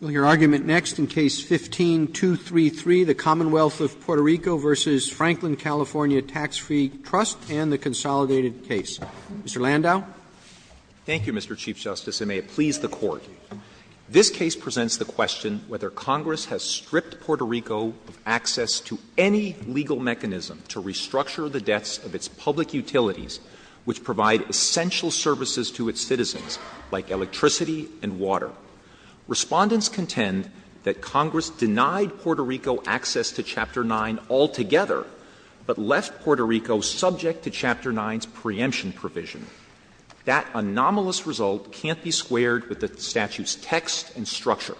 and the Consolidated Case. Mr. Landau. Mr. Landau, thank you, Mr. Chief Justice, and may it please the Court. This case presents the question whether Congress has stripped Puerto Rico of access to any legal mechanism to restructure the debts of its public utilities, which provide essential services to its citizens, like electricity and water. Respondents contend that Congress denied Puerto Rico access to Chapter 9 altogether, but left Puerto Rico subject to Chapter 9's preemption provision. That anomalous result can't be squared with the statute's text and structure.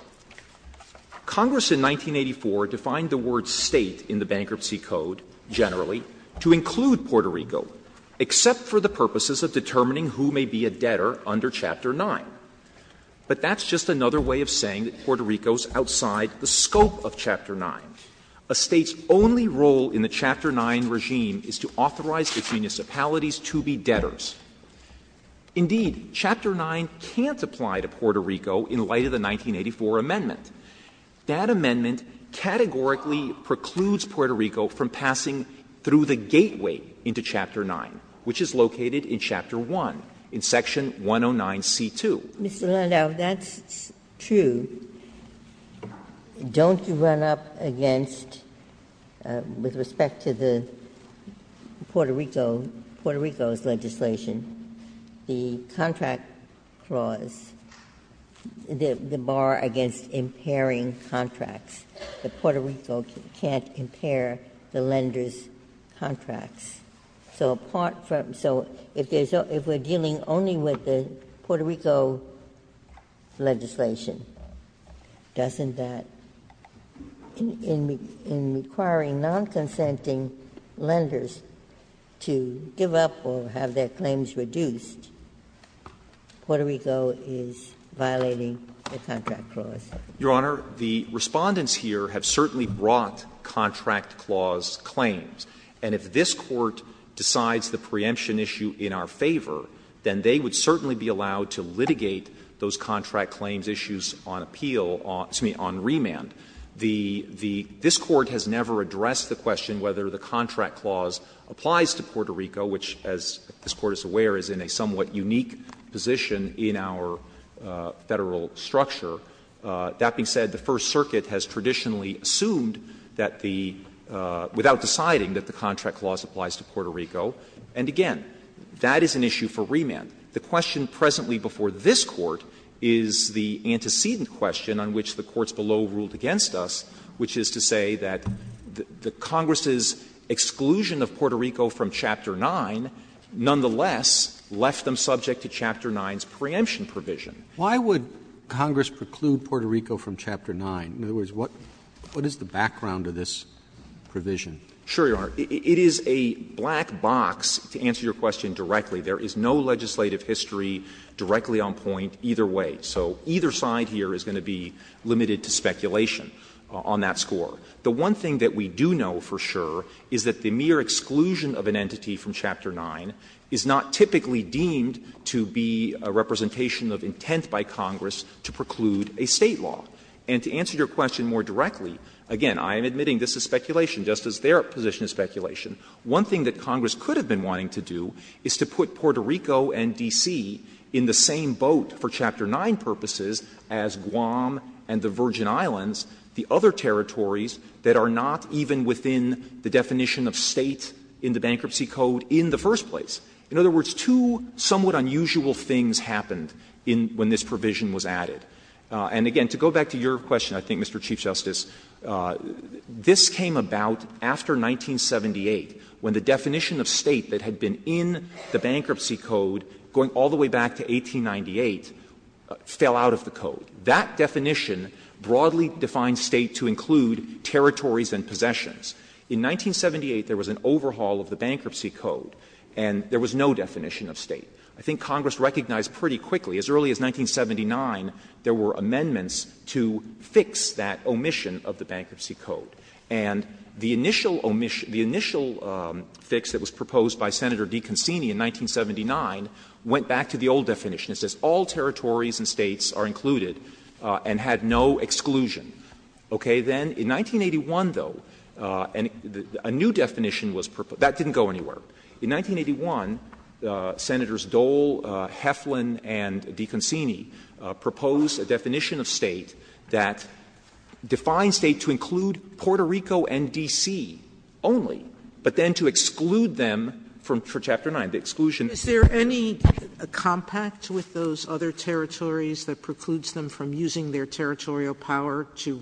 Congress in 1984 defined the word State in the Bankruptcy Code, generally, to include Puerto Rico, except for the purposes of determining who may be a debtor under Chapter 9. But that's just another way of saying that Puerto Rico is outside the scope of Chapter 9. A State's only role in the Chapter 9 regime is to authorize its municipalities to be debtors. Indeed, Chapter 9 can't apply to Puerto Rico in light of the 1984 amendment. That amendment categorically precludes Puerto Rico from passing through the gateway into Chapter 9, which is located in Chapter 1, in section 109C2. Ginsburg. Mr. Landau, if that's true, don't you run up against, with respect to the Puerto Rico, Puerto Rico's legislation, the contract clause, the bar against impairing the lender's contracts, that Puerto Rico can't impair the lender's contracts? So apart from so, if there's a, if we're dealing only with the Puerto Rico legislation, doesn't that, in requiring non-consenting lenders to give up or have their claims reduced, Puerto Rico is violating the contract clause? Your Honor, the Respondents here have certainly brought contract clause claims. And if this Court decides the preemption issue in our favor, then they would certainly be allowed to litigate those contract claims issues on appeal, excuse me, on remand. The, the, this Court has never addressed the question whether the contract clause applies to Puerto Rico, which, as this Court is aware, is in a somewhat unique position in our Federal structure. That being said, the First Circuit has traditionally assumed that the, without deciding that the contract clause applies to Puerto Rico. And, again, that is an issue for remand. The question presently before this Court is the antecedent question on which the courts below ruled against us, which is to say that the Congress's exclusion of Puerto Rico is not part of Chapter 9's preemption provision. Roberts. 9. In other words, what, what is the background of this provision? Sure, Your Honor. It is a black box, to answer your question directly. There is no legislative history directly on point either way. So either side here is going to be limited to speculation on that score. The one thing that we do know for sure is that the mere exclusion of an entity from Chapter 9 is not typically deemed to be a representation of intent by Congress to preclude a State law. And to answer your question more directly, again, I am admitting this is speculation, just as their position is speculation. One thing that Congress could have been wanting to do is to put Puerto Rico and D.C. in the same boat for Chapter 9 purposes as Guam and the Virgin Islands, the other territories that are not even within the definition of State in the Bankruptcy Code in the first place. In other words, two somewhat unusual things happened when this provision was added. And again, to go back to your question, I think, Mr. Chief Justice, this came about after 1978, when the definition of State that had been in the Bankruptcy Code going all the way back to 1898 fell out of the Code. That definition broadly defined State to include territories and possessions. In 1978, there was an overhaul of the Bankruptcy Code, and there was no definition of State. I think Congress recognized pretty quickly, as early as 1979, there were amendments to fix that omission of the Bankruptcy Code. And the initial omission the initial fix that was proposed by Senator DeConcini in 1979 went back to the old definition. It says all territories and States are included and had no exclusion. Okay. Then in 1981, though, a new definition was proposed. That didn't go anywhere. In 1981, Senators Dole, Heflin, and DeConcini proposed a definition of State that defined State to include Puerto Rico and D.C. only, but then to exclude them for Chapter 9, the exclusion. Sotomayor's Honor, is there any compact with those other territories that precludes them from using their territorial power to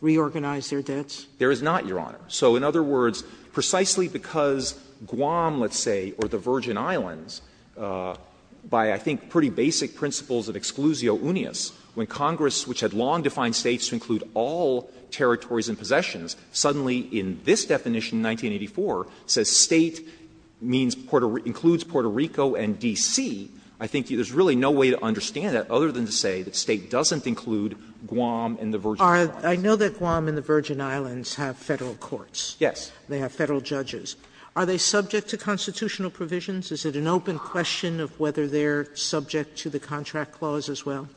reorganize their debts? There is not, Your Honor. So, in other words, precisely because Guam, let's say, or the Virgin Islands, by I think pretty basic principles of exclusio uneus, when Congress, which had long defined States to include all territories and possessions, suddenly in this definition in 1984, says State includes Puerto Rico and D.C., I think there's really no way to understand that other than to say that State doesn't include Guam and the Virgin Sotomayor's Honor, I know that Guam and the Virgin Islands have Federal courts. Yes. They have Federal judges. Are they subject to constitutional provisions? Is it an open question of whether they're subject to the contract clause as well?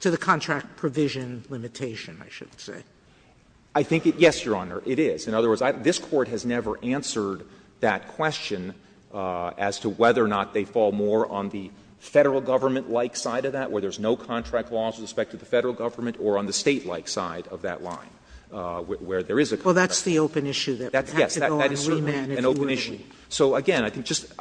To the contract provision limitation, I should say. I think it yes, Your Honor, it is. In other words, this Court has never answered that question as to whether or not they fall more on the Federal government-like side of that, where there's no contract clause with respect to the Federal government, or on the State-like side of that line, where there is a contract clause. Well, that's the open issue that we would have to go on and remand if we were to. Yes, that is certainly an open issue. So, again, I think just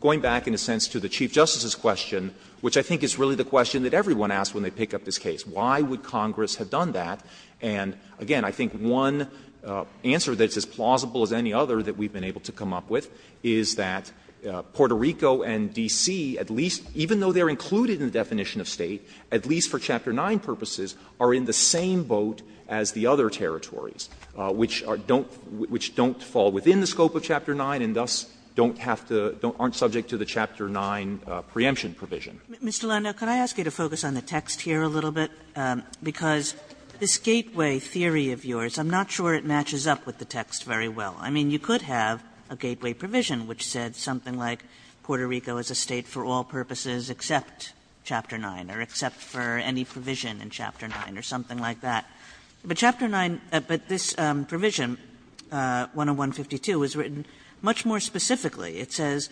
going back in a sense to the Chief Justice's question, which I think is really the question that everyone asks when they pick up this case, why would Congress have done that? And, again, I think one answer that's as plausible as any other that we've been able to come up with is that Puerto Rico and D.C., at least, even though they're included in the definition of State, at least for Chapter 9 purposes, are in the same boat as the other territories, which don't fall within the scope of Chapter 9 and thus don't have to, aren't subject to the Chapter 9 preemption provision. Kagan Mr. Leiner, can I ask you to focus on the text here a little bit? Because this gateway theory of yours, I'm not sure it matches up with the text very well. I mean, you could have a gateway provision which said something like, Puerto Rico is a State for all purposes except Chapter 9 or except for any provision in Chapter 9 or something like that, but Chapter 9, this provision, 101.52, was written much more specifically. It says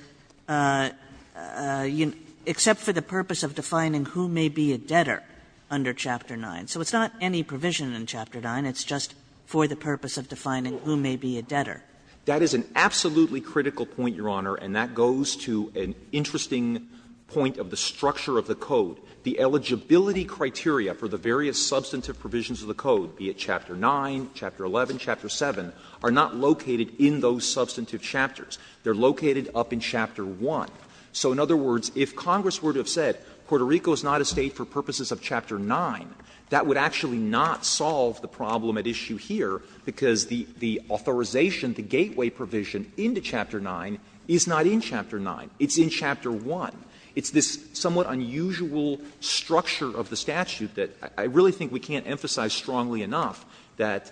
except for the purpose of defining who may be a debtor under Chapter 9. So it's not any provision in Chapter 9. It's just for the purpose of defining who may be a debtor. Clement That is an absolutely critical point, Your Honor, and that goes to an interesting point of the structure of the code. The eligibility criteria for the various substantive provisions of the code, be it Chapter 9, Chapter 11, Chapter 7, are not located in those substantive chapters. They are located up in Chapter 1. So in other words, if Congress were to have said Puerto Rico is not a State for purposes of Chapter 9, that would actually not solve the problem at issue here, because the authorization, the gateway provision into Chapter 9 is not in Chapter 9. It's in Chapter 1. It's this somewhat unusual structure of the statute that I really think we can't emphasize strongly enough that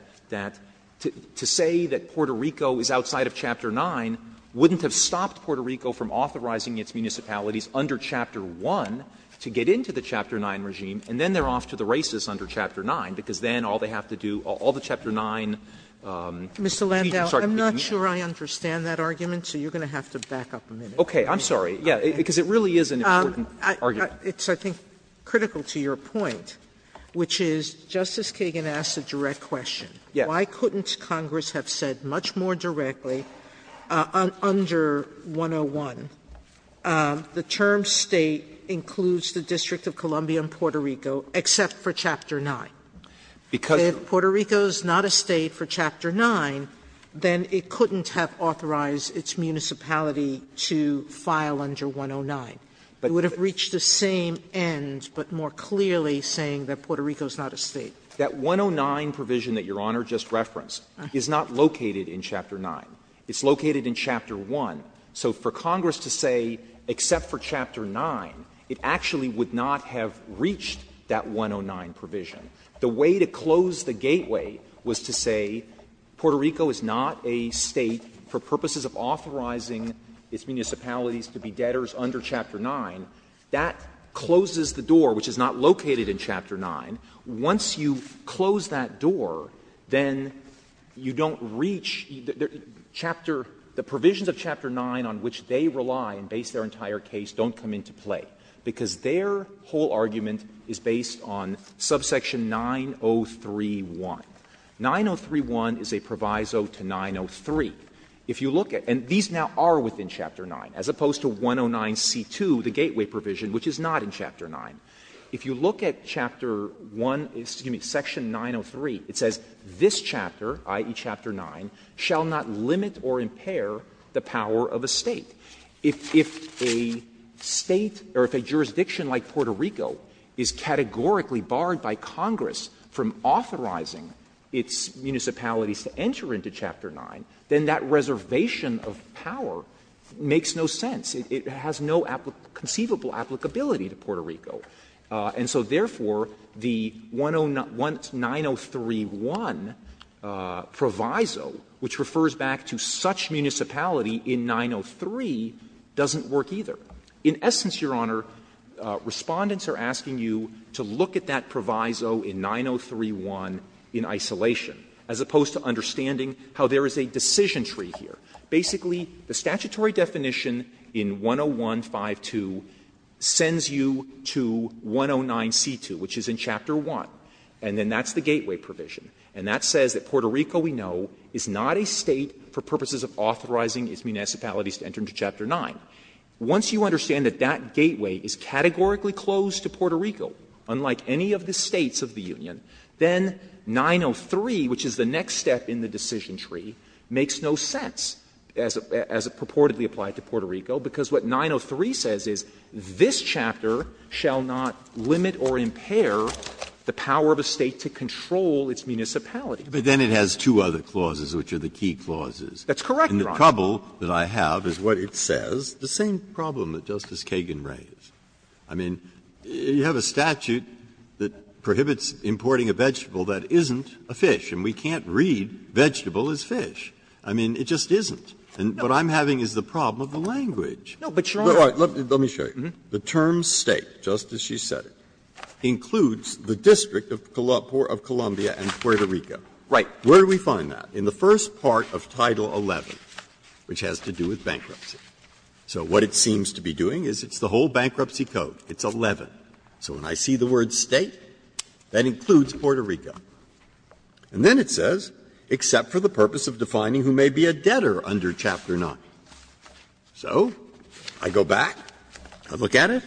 to say that Puerto Rico is outside of Chapter 9, that wouldn't have stopped Puerto Rico from authorizing its municipalities under Chapter 1 to get into the Chapter 9 regime, and then they are off to the races under Chapter 9, because then all they have to do, all the Chapter 9. Sotomayor Mr. Landau, I'm not sure I understand that argument, so you're going to have to back up a minute. Clement Okay. I'm sorry. Yes, because it really is an important argument. Sotomayor It's, I think, critical to your point, which is Justice Kagan asked a direct question. Clement Yes. Sotomayor Why couldn't Congress have said much more directly, under 101, the term State includes the District of Columbia and Puerto Rico, except for Chapter 9? Sotomayor If Puerto Rico is not a State for Chapter 9, then it couldn't have authorized its municipality to file under 109. It would have reached the same end, but more clearly saying that Puerto Rico is not a State. That 109 provision that Your Honor just referenced is not located in Chapter 9. It's located in Chapter 1. So for Congress to say, except for Chapter 9, it actually would not have reached that 109 provision. The way to close the gateway was to say Puerto Rico is not a State for purposes of authorizing its municipalities to be debtors under Chapter 9. That closes the door, which is not located in Chapter 9. Once you close that door, then you don't reach the chapter the provisions of Chapter 9 on which they rely and base their entire case don't come into play, because their whole argument is based on subsection 903.1. 903.1 is a proviso to 903. If you look at, and these now are within Chapter 9, as opposed to 109c2, the gateway provision, which is not in Chapter 9, if you look at Chapter 1, excuse me, section 903, it says this chapter, i.e., Chapter 9, shall not limit or impair the power of a State. If a State or if a jurisdiction like Puerto Rico is categorically barred by Congress from authorizing its municipalities to enter into Chapter 9, then that reservation of power makes no sense. It has no conceivable applicability to Puerto Rico. And so, therefore, the 903.1 proviso, which refers back to such municipality in 903, doesn't work either. In essence, Your Honor, Respondents are asking you to look at that proviso in 903.1 in isolation, as opposed to understanding how there is a decision tree here. Basically, the statutory definition in 101.5.2 sends you to 109c2, which is in Chapter 1, and then that's the gateway provision. And that says that Puerto Rico, we know, is not a State for purposes of authorizing its municipalities to enter into Chapter 9. Once you understand that that gateway is categorically closed to Puerto Rico, unlike any of the States of the Union, then 903, which is the next step in the decision tree, makes no sense as it purportedly applied to Puerto Rico, because what 903 says is this chapter shall not limit or impair the power of a State to control its municipality. Breyer. But then it has two other clauses, which are the key clauses. That's correct, Your Honor. And the trouble that I have is what it says, the same problem that Justice Kagan raised. I mean, you have a statute that prohibits importing a vegetable that isn't a fish, and we can't read vegetable as fish. I mean, it just isn't. What I'm having is the problem of the language. Breyer. Let me show you. The term State, just as she said it, includes the District of Columbia and Puerto Rico. Right. Where do we find that? In the first part of Title 11, which has to do with bankruptcy. So what it seems to be doing is it's the whole bankruptcy code. It's 11. So when I see the word State, that includes Puerto Rico. And then it says, except for the purpose of defining who may be a debtor under Chapter 9. So I go back, I look at it,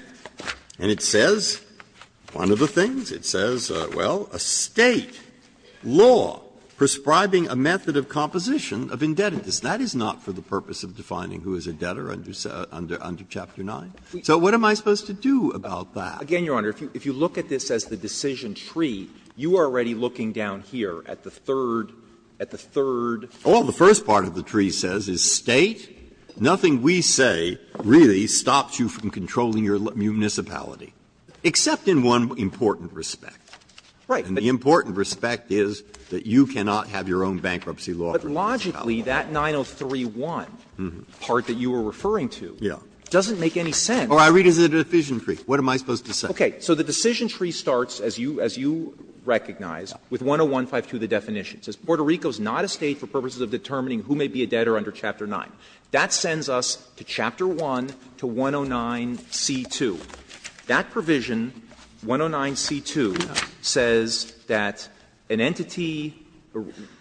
and it says one of the things. It says, well, a State law prescribing a method of composition of indebtedness. That is not for the purpose of defining who is a debtor under Chapter 9. So what am I supposed to do about that? Again, Your Honor, if you look at this as the decision tree, you are already looking down here at the third, at the third. Breyer. Well, the first part of the tree says is State, nothing we say really stops you from controlling your municipality, except in one important respect. Right. And the important respect is that you cannot have your own bankruptcy law. But logically, that 903-1 part that you were referring to doesn't make any sense. Or I read it as a decision tree. What am I supposed to say? Okay. So the decision tree starts, as you recognize, with 101-52, the definition. It says Puerto Rico is not a State for purposes of determining who may be a debtor under Chapter 9. That sends us to Chapter 1 to 109c2. That provision, 109c2, says that an entity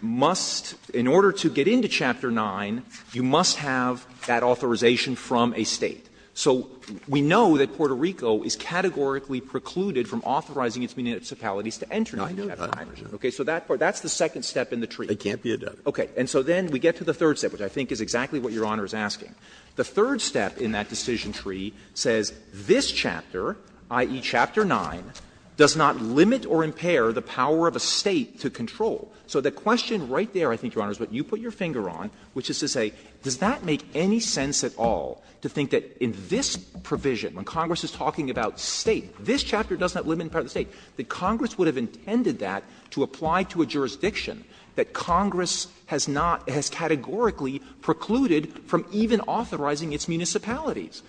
must, in order to get into Chapter 9, you must have that authorization from a State. So we know that Puerto Rico is categorically precluded from authorizing its municipalities to enter into Chapter 9. Okay. So that's the second step in the tree. Breyer. It can't be a debtor. Okay. And so then we get to the third step, which I think is exactly what Your Honor is asking. The third step in that decision tree says this chapter, i.e. Chapter 9, does not limit or impair the power of a State to control. So the question right there, I think, Your Honor, is what you put your finger on, which is to say, does that make any sense at all to think that in this provision, when Congress is talking about State, this chapter does not limit the power of the State, that Congress would have intended that to apply to a jurisdiction that Congress has not, has categorically precluded from even authorizing its municipalities?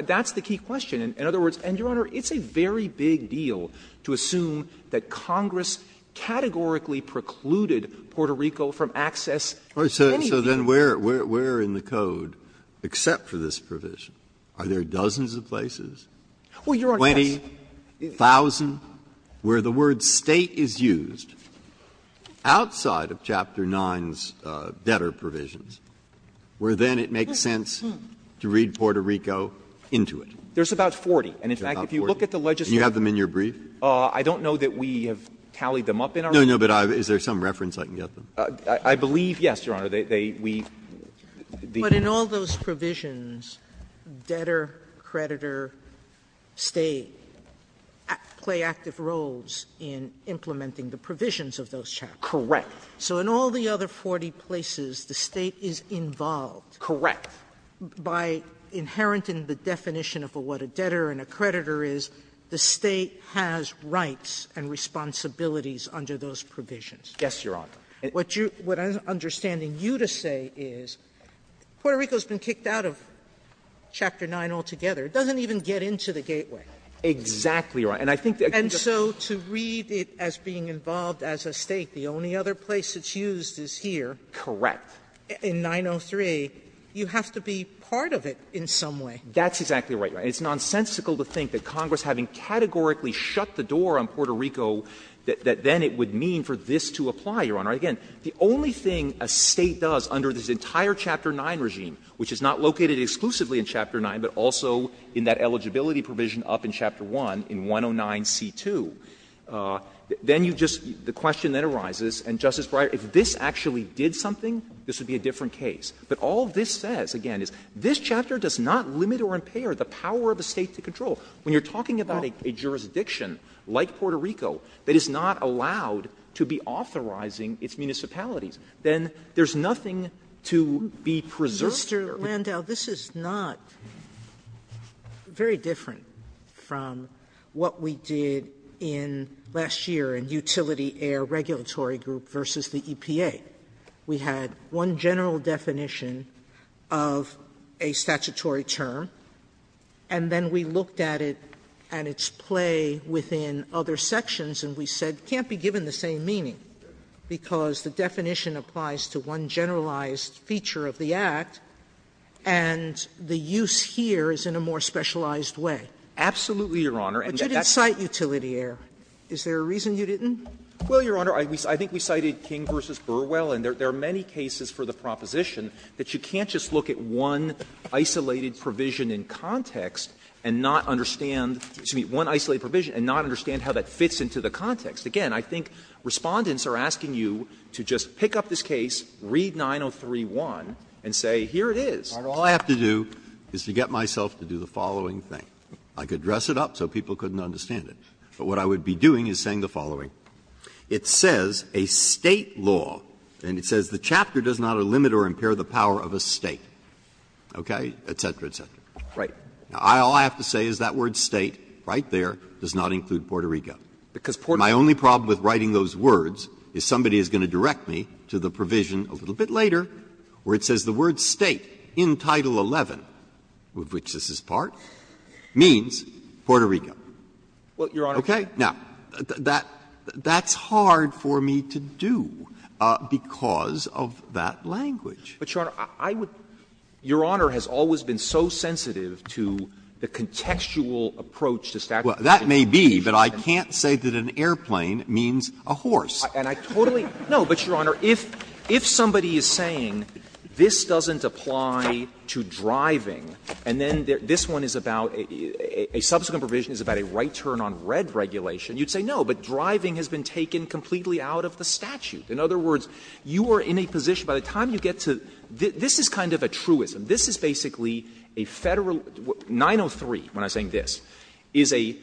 That's the key question. In other words, and, Your Honor, it's a very big deal to assume that Congress categorically precluded Puerto Rico from access to anything. Breyer. So then where in the code, except for this provision, are there dozens of places? 20,000? Where the word State is used outside of Chapter 9's debtor provisions, where then it makes sense to read Puerto Rico into it? There's about 40. And in fact, if you look at the legislature's briefs. And you have them in your brief? I don't know that we have tallied them up in our brief. No, no, but is there some reference I can get them? I believe, yes, Your Honor. But in all those provisions, debtor, creditor, State, play active roles in implementing the provisions of those chapters. Correct. So in all the other 40 places, the State is involved. Correct. By inheriting the definition of what a debtor and a creditor is, the State has rights and responsibilities under those provisions. Yes, Your Honor. What I'm understanding you to say is, Puerto Rico has been kicked out of Chapter 9 altogether. It doesn't even get into the gateway. Exactly right. And I think that the other place it's used is here. Correct. In 903, you have to be part of it in some way. That's exactly right, Your Honor. It's nonsensical to think that Congress, having categorically shut the door on Puerto Rico, that then it would mean for this to apply, Your Honor. Again, the only thing a State does under this entire Chapter 9 regime, which is not located exclusively in Chapter 9, but also in that eligibility provision up in Chapter 1, in 109c2, then you just the question then arises, and, Justice Breyer, if this actually did something, this would be a different case. But all this says, again, is this chapter does not limit or impair the power of the State to control. When you're talking about a jurisdiction like Puerto Rico that is not allowed to be authorizing its municipalities, then there's nothing to be preserved here. Mr. Landau, this is not very different from what we did in last year in Utility Air Regulatory Group v. the EPA. We had one general definition of a statutory term, and then we looked at it and its play within other sections, and we said it can't be given the same meaning because the definition applies to one generalized feature of the Act, and the use here is in a more specialized way. Absolutely, Your Honor. But you didn't cite Utility Air. Is there a reason you didn't? Well, Your Honor, I think we cited King v. Burwell, and there are many cases for the proposition that you can't just look at one isolated provision in context and not understand one isolated provision and not understand how that fits into the context. Again, I think Respondents are asking you to just pick up this case, read 903-1, and say here it is. All I have to do is to get myself to do the following thing. I could dress it up so people couldn't understand it, but what I would be doing is saying the following. It says a State law, and it says the chapter does not limit or impair the power of a State, okay, et cetera, et cetera. Right. All I have to say is that word State right there does not include Puerto Rico. Because Puerto Rico. My only problem with writing those words is somebody is going to direct me to the provision a little bit later where it says the word State in Title XI, of which this is part, means Puerto Rico. Well, Your Honor. Okay? Now, that's hard for me to do because of that language. But, Your Honor, I would — Your Honor has always been so sensitive to the contextual approach to statute. Well, that may be, but I can't say that an airplane means a horse. And I totally — no, but, Your Honor, if somebody is saying this doesn't apply to driving and then this one is about a subsequent provision is about a right turn on red regulation, you would say no, but driving has been taken completely out of the statute. In other words, you are in a position, by the time you get to — this is kind of a truism. This is basically a Federal — 903, when I'm saying this, is an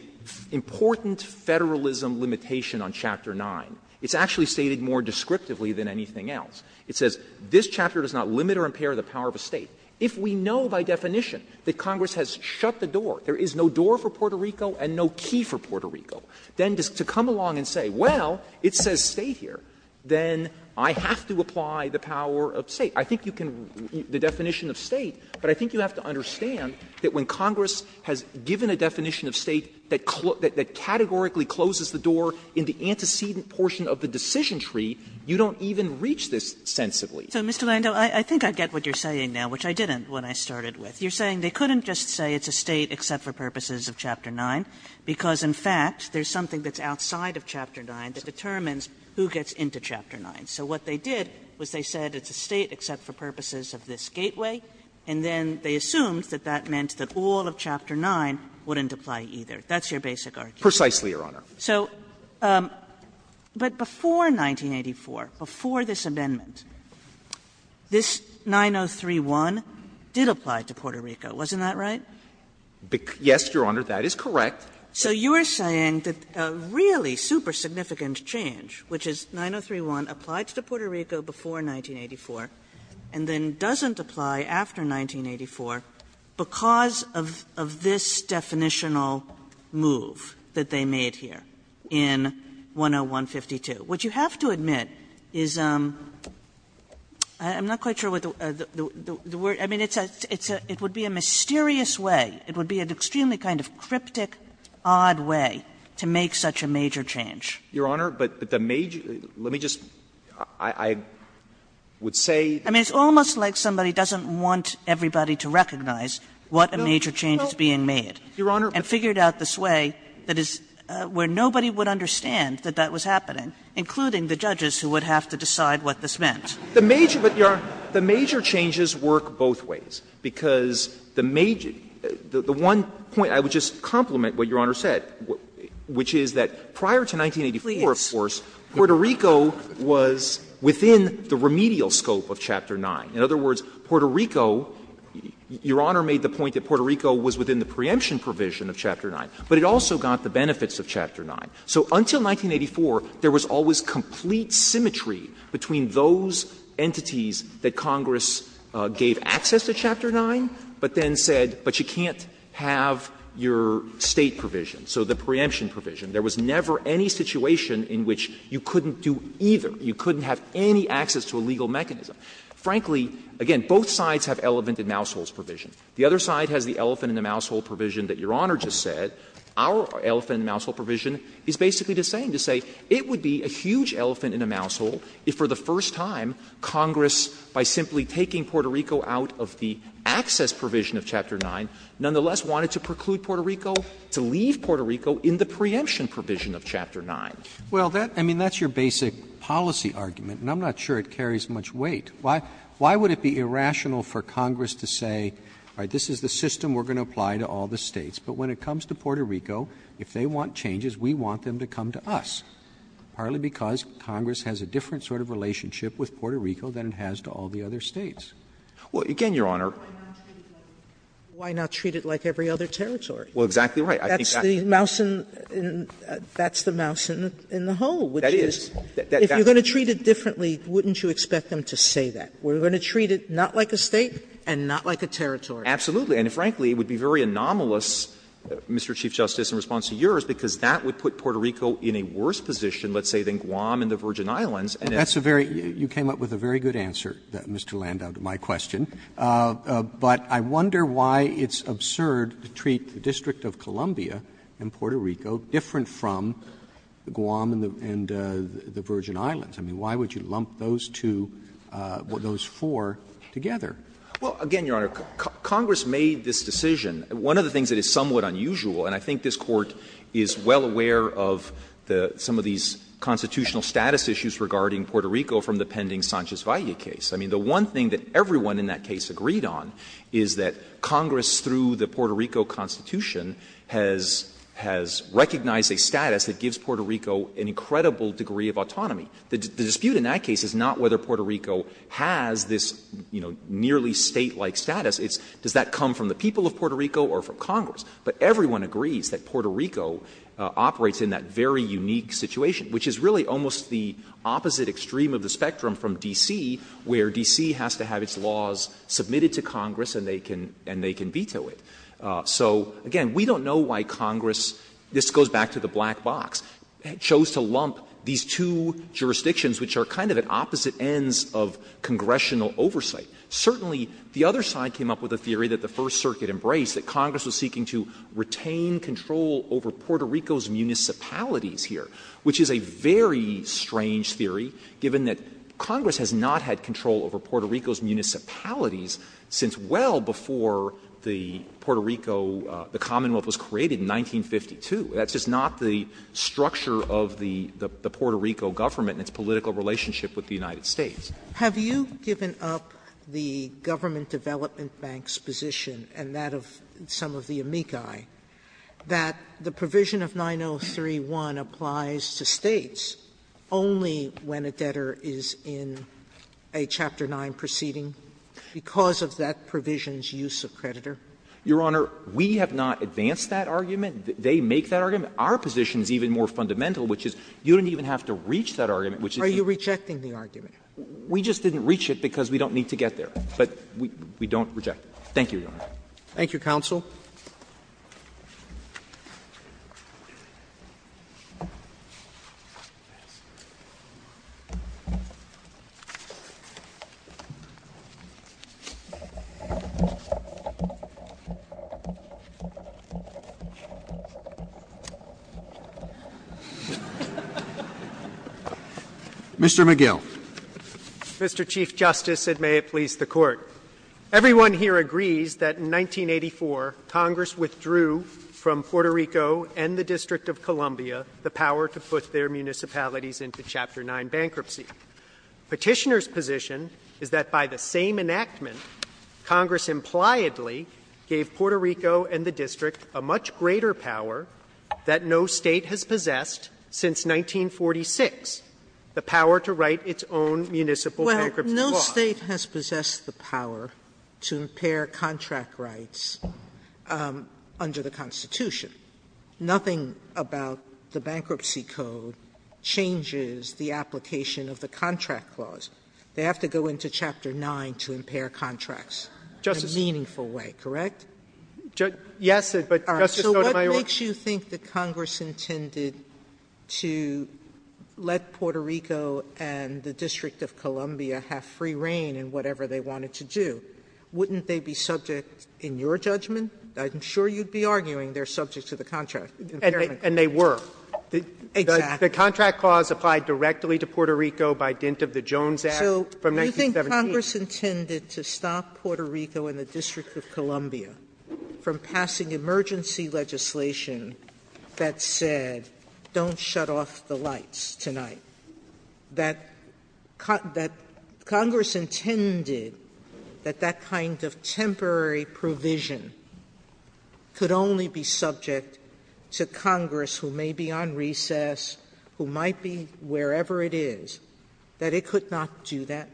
important Federalism limitation on Chapter 9. It's actually stated more descriptively than anything else. It says this chapter does not limit or impair the power of a State. If we know by definition that Congress has shut the door, there is no door for Puerto Rico and no key for Puerto Rico, then to come along and say, well, it says State here, then I have to apply the power of State. I think you can — the definition of State, but I think you have to understand that when Congress has given a definition of State that categorically closes the door in the antecedent portion of the decision tree, you don't even reach this sensibly. Kagan. So, Mr. Landau, I think I get what you're saying now, which I didn't when I started with. You're saying they couldn't just say it's a State except for purposes of Chapter 9, because who gets into Chapter 9? So what they did was they said it's a State except for purposes of this gateway, and then they assumed that that meant that all of Chapter 9 wouldn't apply either. That's your basic argument. Landau, precisely, Your Honor. So, but before 1984, before this amendment, this 903-1 did apply to Puerto Rico, wasn't that right? Yes, Your Honor, that is correct. So you're saying that a really super-significant change, which is 903-1, applied to Puerto Rico before 1984, and then doesn't apply after 1984 because of this definitional move that they made here in 101-52. What you have to admit is — I'm not quite sure what the word — I mean, it's a — it would be a mysterious way. It would be an extremely kind of cryptic, odd way to make such a major change. Your Honor, but the major — let me just — I would say— I mean, it's almost like somebody doesn't want everybody to recognize what a major change is being made— No, no, Your Honor— —and figured out this way that is — where nobody would understand that that was happening, including the judges who would have to decide what this meant. The major — but, Your Honor, the major changes work both ways, because the major — the one point — I would just complement what Your Honor said, which is that prior to 1984, of course— Please. —Puerto Rico was within the remedial scope of Chapter 9. In other words, Puerto Rico — Your Honor made the point that Puerto Rico was within the preemption provision of Chapter 9, but it also got the benefits of Chapter 9. So until 1984, there was always complete symmetry between those entities that Congress gave access to Chapter 9, but then said, but you can't have your State provision, so the preemption provision. There was never any situation in which you couldn't do either. You couldn't have any access to a legal mechanism. Frankly, again, both sides have elephant-in-the-mousehole provision. The other side has the elephant-in-the-mousehole provision that Your Honor just said. Our elephant-in-the-mousehole provision is basically the same, to say it would be a huge elephant-in-the-mousehole if, for the first time, Congress, by simply taking Puerto Rico out of the access provision of Chapter 9, nonetheless wanted to preclude Puerto Rico to leave Puerto Rico in the preemption provision of Chapter 9. Roberts, I mean, that's your basic policy argument, and I'm not sure it carries much weight. Why would it be irrational for Congress to say, all right, this is the system we're going to apply to all the States, but when it comes to Puerto Rico, if they want changes, we want them to come to us, partly because Congress has a different sort of relationship with Puerto Rico than it has to all the other States? Clement, again, Your Honor. Sotomayor, why not treat it like every other territory? Well, exactly right. I think that's the mouse in the hole, which is, if you're going to treat it differently, wouldn't you expect them to say that? We're going to treat it not like a State and not like a territory. Absolutely. And frankly, it would be very anomalous, Mr. Chief Justice, in response to yours, because that would put Puerto Rico in a worse position, let's say, than Guam and the Virgin Islands. Roberts, that's a very — you came up with a very good answer, Mr. Landau, to my question. But I wonder why it's absurd to treat the District of Columbia and Puerto Rico different from Guam and the Virgin Islands. I mean, why would you lump those two, those four together? Well, again, Your Honor, Congress made this decision. One of the things that is somewhat unusual, and I think this Court is well aware of some of these constitutional status issues regarding Puerto Rico from the pending Sanchez-Valle case. I mean, the one thing that everyone in that case agreed on is that Congress, through the Puerto Rico Constitution, has recognized a status that gives Puerto Rico an incredible degree of autonomy. The dispute in that case is not whether Puerto Rico has this, you know, nearly State-like status. It's does that come from the people of Puerto Rico or from Congress? But everyone agrees that Puerto Rico operates in that very unique situation, which is really almost the opposite extreme of the spectrum from D.C., where D.C. has to have its laws submitted to Congress and they can veto it. So, again, we don't know why Congress — this goes back to the black box — chose to lump these two jurisdictions, which are kind of at opposite ends of congressional oversight. Certainly, the other side came up with a theory that the First Circuit embraced, that Congress was seeking to retain control over Puerto Rico's municipalities here, which is a very strange theory, given that Congress has not had control over Puerto Rico's municipalities since well before the Puerto Rico — the Commonwealth was created in 1952. That's just not the structure of the Puerto Rico government and its political relationship with the United States. Sotomayor, have you given up the Government Development Bank's position and that of some of the amici that the provision of 903-1 applies to States only when a debtor is in a Chapter 9 proceeding because of that provision's use of creditor? Your Honor, we have not advanced that argument. They make that argument. Our position is even more fundamental, which is you don't even have to reach that argument, which is the same. Sotomayor, are you rejecting the argument? We just didn't reach it because we don't need to get there. But we don't reject it. Thank you, Your Honor. Roberts. Thank you, counsel. Mr. McGill. Mr. Chief Justice, and may it please the Court. Everyone here agrees that in 1984, Congress withdrew from Puerto Rico and the District of Columbia the power to put their municipalities into Chapter 9 bankruptcy. Petitioner's position is that by the same enactment, Congress impliedly gave Puerto Rico and the District a much greater power that no State has possessed since 1946, but no State has possessed the power to impair contract rights under the Constitution. Nothing about the Bankruptcy Code changes the application of the Contract Clause. They have to go into Chapter 9 to impair contracts in a meaningful way, correct? Yes, but, Justice Sotomayor So what makes you think that Congress intended to let Puerto Rico and the District of Columbia have free reign in whatever they wanted to do? Wouldn't they be subject, in your judgment, I'm sure you'd be arguing, they're subject to the contract impairment clause. And they were. Exactly. The Contract Clause applied directly to Puerto Rico by dint of the Jones Act from 1978. So you think Congress intended to stop Puerto Rico and the District of Columbia from passing emergency legislation that said, don't shut off the lights tonight? That Congress intended that that kind of temporary provision could only be subject to Congress, who may be on recess, who might be wherever it is, that it could not do that?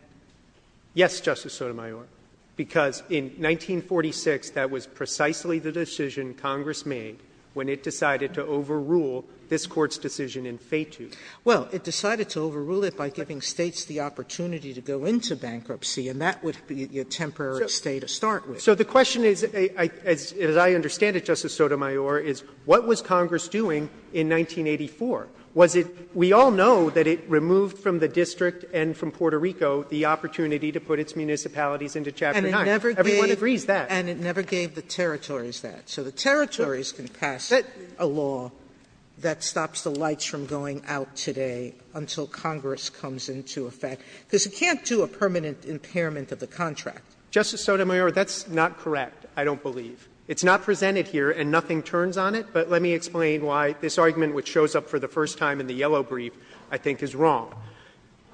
Yes, Justice Sotomayor, because in 1946, that was precisely the decision Congress made when it decided to overrule this Court's decision in Feitu. Well, it decided to overrule it by giving States the opportunity to go into bankruptcy, and that would be a temporary stay to start with. So the question is, as I understand it, Justice Sotomayor, is what was Congress doing in 1984? Was it we all know that it removed from the district and from Puerto Rico the opportunity to put its municipalities into Chapter 9. Everyone agrees that. And it never gave the territories that. So the territories can pass a law that stops the lights from going out today until Congress comes into effect, because it can't do a permanent impairment of the contract. Justice Sotomayor, that's not correct, I don't believe. It's not presented here and nothing turns on it, but let me explain why this argument which shows up for the first time in the yellow brief, I think, is wrong.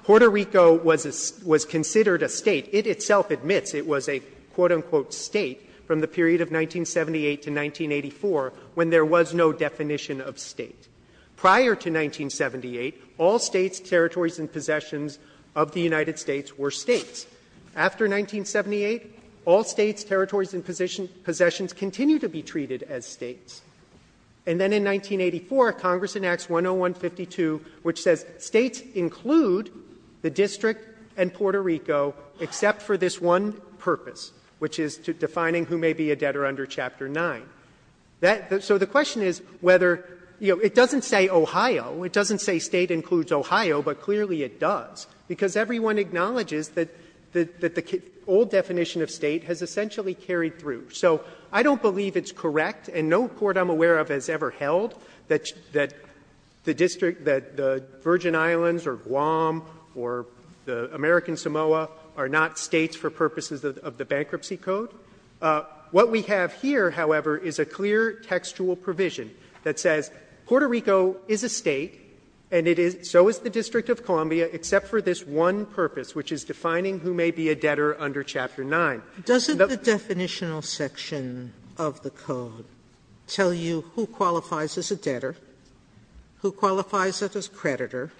Puerto Rico was considered a State. It itself admits it was a, quote, unquote, State from the period of 1978 to 1984 when there was no definition of State. Prior to 1978, all States, territories, and possessions of the United States were States. After 1978, all States, territories, and possessions continue to be treated as States. And then in 1984, Congress enacts 10152, which says States include the district and Puerto Rico except for this one purpose, which is to defining who may be a debtor under Chapter 9. That so the question is whether, you know, it doesn't say Ohio, it doesn't say State includes Ohio, but clearly it does, because everyone acknowledges that the old definition of State has essentially carried through. So I don't believe it's correct, and no court I'm aware of has ever held that the district, that the Virgin Islands or Guam or the American Samoa are not States for purposes of the Bankruptcy Code. What we have here, however, is a clear textual provision that says Puerto Rico is a State and it is so is the District of Columbia except for this one purpose, which is defining who may be a debtor under Chapter 9. Sotomayor, doesn't the definitional section of the code tell you who qualifies as a debtor, who qualifies as a creditor,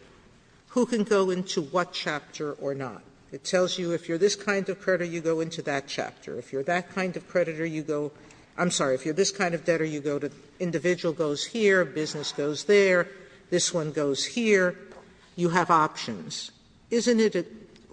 who can go into what chapter or not? It tells you if you're this kind of creditor, you go into that chapter. If you're that kind of creditor, you go to the individual goes here, business goes there, this one goes here, you have options. Isn't it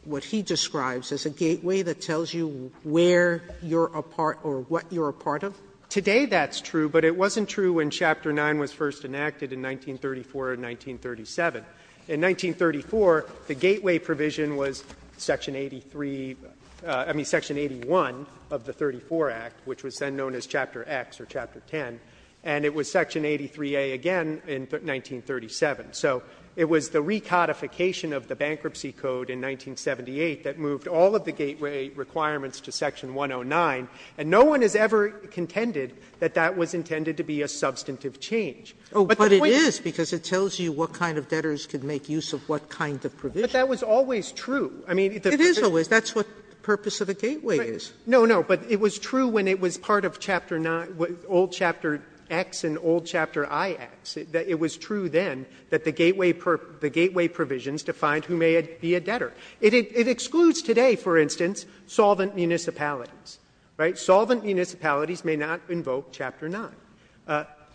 what he describes as a gateway that tells you where you're a part or what you're a part of? Today that's true, but it wasn't true when Chapter 9 was first enacted in 1934 or 1937. In 1934, the gateway provision was Section 83, I mean, Section 81 of the 34 Act, which was then known as Chapter X or Chapter 10, and it was Section 83A again in 1937. So it was the recodification of the Bankruptcy Code in 1978 that moved all of the gateway requirements to Section 109, and no one has ever contended that that was intended to be a substantive change. But the point is that it tells you what kind of debtors could make use of what kind of provision. But that was always true. I mean, it is always. That's what the purpose of the gateway is. No, no. But it was true when it was part of Chapter 9, old Chapter X and old Chapter IX. It was true then that the gateway provisions defined who may be a debtor. It excludes today, for instance, solvent municipalities, right? Solvent municipalities may not invoke Chapter 9.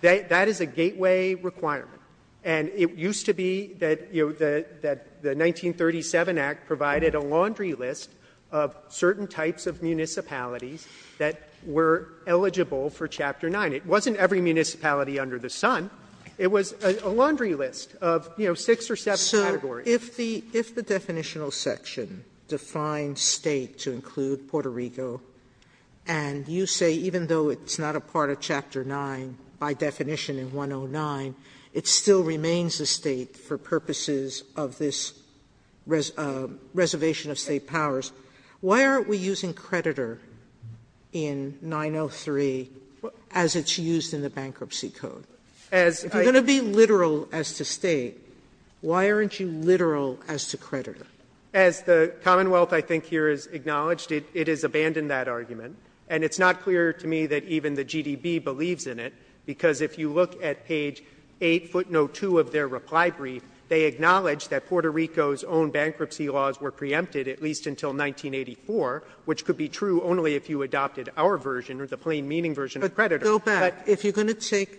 That is a gateway requirement. And it used to be that the 1937 Act provided a laundry list of certain types of municipalities that were eligible for Chapter 9. It wasn't every municipality under the sun. It was a laundry list of, you know, six or seven categories. Sotomayor, if the definitional section defines State to include Puerto Rico, and you say even though it's not a part of Chapter 9, by definition in 109, it still remains a State for purposes of this reservation of State powers, why aren't we using creditor in 903 as it's used in the Bankruptcy Code? If you're going to be literal as to State, why aren't you literal as to creditor? As the Commonwealth, I think, here has acknowledged, it has abandoned that argument. And it's not clear to me that even the GDB believes in it, because if you look at page 802 of their reply brief, they acknowledge that Puerto Rico's own bankruptcy laws were preempted at least until 1984, which could be true only if you adopted our version or the plain meaning version of creditor. Sotomayor, if you're going to take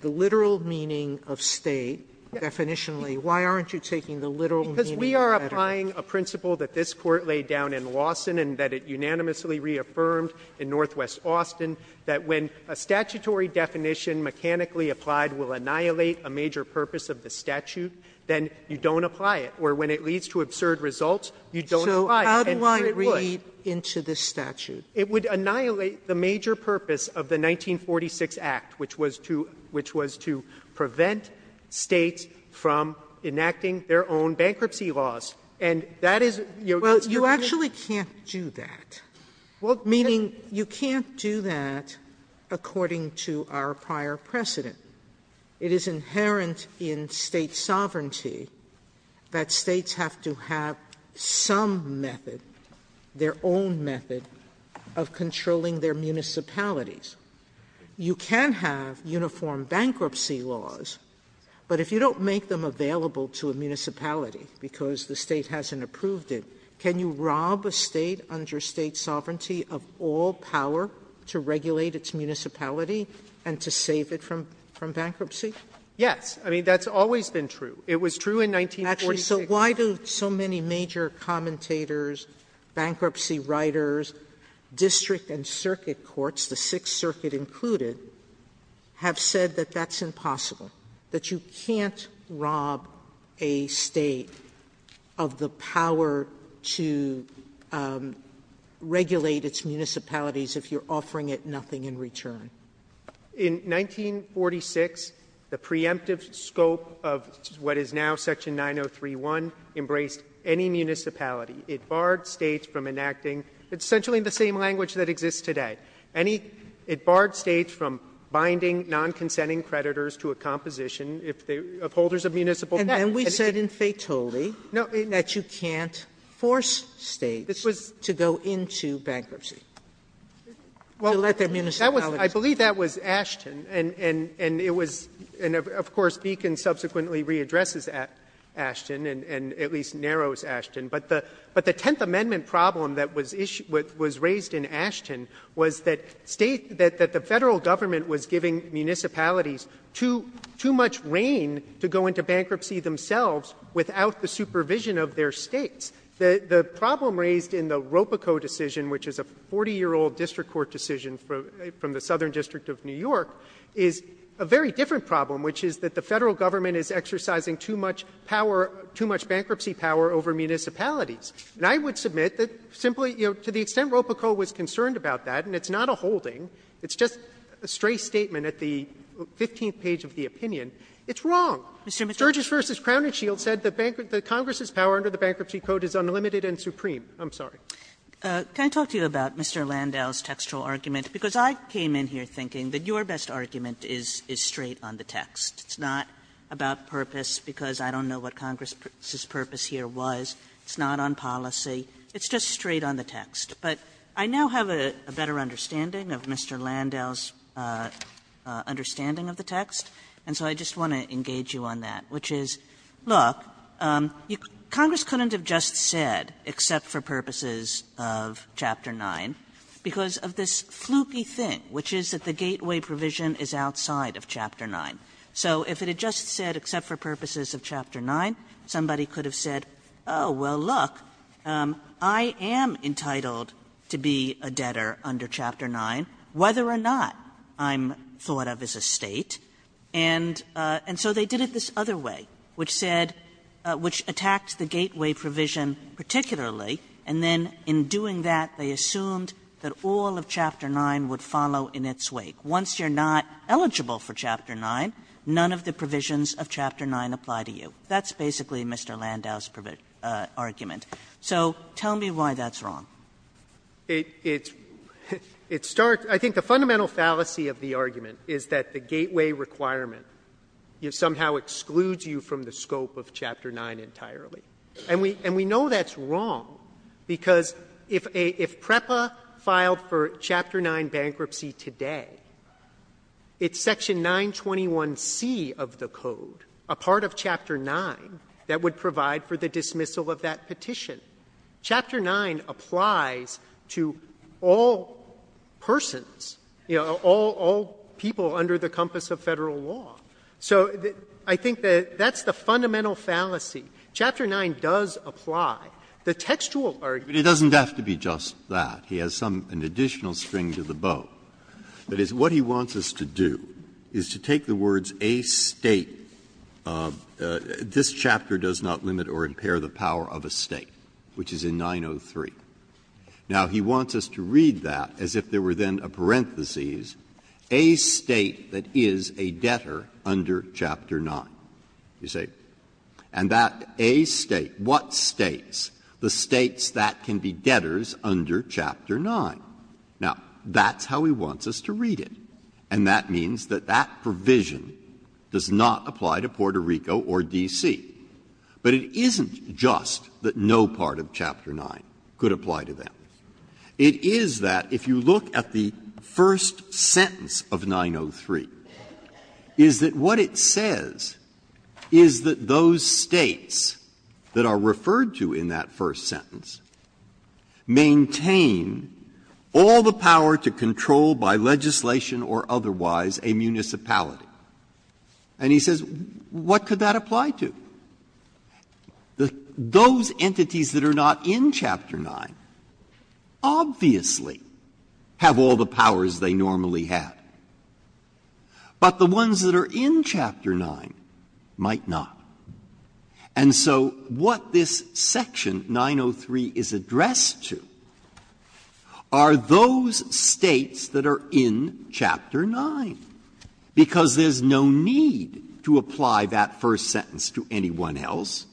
the literal meaning of State definitionally, why aren't you taking the literal meaning of creditor? Katyal, because we are applying a principle that this Court laid down in Lawson and that it unanimously reaffirmed in Northwest Austin, that when a statutory definition mechanically applied will annihilate a major purpose of the statute, then you don't apply it. Or when it leads to absurd results, you don't apply it. Sotomayor, how do I read into this statute? It would annihilate the major purpose of the 1946 Act, which was to prevent States from enacting their own bankruptcy laws. And that is the purpose of the statute. Well, you actually can't do that, meaning you can't do that according to our prior precedent. It is inherent in State sovereignty that States have to have some method, their own method, of controlling their municipalities. You can have uniform bankruptcy laws, but if you don't make them available to a municipality because the State hasn't approved it, can you rob a State under State sovereignty of all power to regulate its municipality and to save it from bankruptcy? Yes. I mean, that's always been true. It was true in 1946. Actually, so why do so many major commentators, bankruptcy writers, district and circuit courts, the Sixth Circuit included, have said that that's impossible, that you can't rob a State of the power to regulate its municipalities if you're offering it nothing in return? In 1946, the preemptive scope of what is now Section 903.1 embraced any municipality. It barred States from enacting — it's essentially the same language that exists today. Any — it barred States from binding non-consenting creditors to a composition of holders of municipal debt. And then we said in Fetoli that you can't force States to go into bankruptcy to let their municipalities — I believe that was Ashton, and it was — and, of course, Beacon subsequently readdresses Ashton and at least narrows Ashton. But the Tenth Amendment problem that was raised in Ashton was that State — that the Federal Government was giving municipalities too much rein to go into bankruptcy themselves without the supervision of their States. The problem raised in the Ropico decision, which is a 40-year-old district court decision from the Southern District of New York, is a very different problem, which is that the Federal Government is exercising too much power — too much And I would submit that simply, you know, to the extent Ropico was concerned about that, and it's not a holding, it's just a stray statement at the 15th page of the opinion, it's wrong. Mr. McChrystal. McChrystal, Judge, v. Crown and Shield, said that Congress's power under the Bankruptcy Code is unlimited and supreme. I'm sorry. Kagan Can I talk to you about Mr. Landau's textual argument? Because I came in here thinking that your best argument is straight on the text. It's not about purpose, because I don't know what Congress's purpose here was. It's not on policy. It's just straight on the text. But I now have a better understanding of Mr. Landau's understanding of the text, and so I just want to engage you on that, which is, look, Congress couldn't have just said, except for purposes of Chapter 9, because of this fluky thing, which is that the gateway provision is outside of Chapter 9. So if it had just said, except for purposes of Chapter 9, somebody could have said, oh, well, look, I am entitled to be a debtor under Chapter 9, whether or not I'm thought of as a State, and so they did it this other way, which said, which attacked the gateway provision particularly, and then in doing that, they assumed that all of Chapter 9 would follow in its wake. Once you're not eligible for Chapter 9, none of the provisions of Chapter 9 apply to you. That's basically Mr. Landau's argument. So tell me why that's wrong. It's start — I think the fundamental fallacy of the argument is that the gateway requirement somehow excludes you from the scope of Chapter 9 entirely. And we know that's wrong, because if PREPA filed for Chapter 9 bankruptcy today, it's Section 921c of the Code, a part of Chapter 9, that would provide for the dismissal of that petition. Chapter 9 applies to all persons, you know, all people under the compass of Federal law. So I think that that's the fundamental fallacy. Chapter 9 does apply. The textual argument doesn't have to be just that. He has some — an additional string to the bow. That is, what he wants us to do is to take the words »a State«, this chapter does not limit or impair the power of a State, which is in 903. Now, he wants us to read that as if there were then a parentheses, »a State that is a debtor under Chapter 9.« You see? And that »a State«, what States? The States that can be debtors under Chapter 9. Now, that's how he wants us to read it. And that means that that provision does not apply to Puerto Rico or D.C. But it isn't just that no part of Chapter 9 could apply to them. It is that, if you look at the first sentence of 903, is that what it says is that those States that are referred to in that first sentence maintain all the power to control by legislation or otherwise a municipality. And he says, what could that apply to? Those entities that are not in Chapter 9 obviously have all the powers they normally had, but the ones that are in Chapter 9 might not. And so what this section 903 is addressed to are those States that are in Chapter 9, because there's no need to apply that first sentence to anyone else,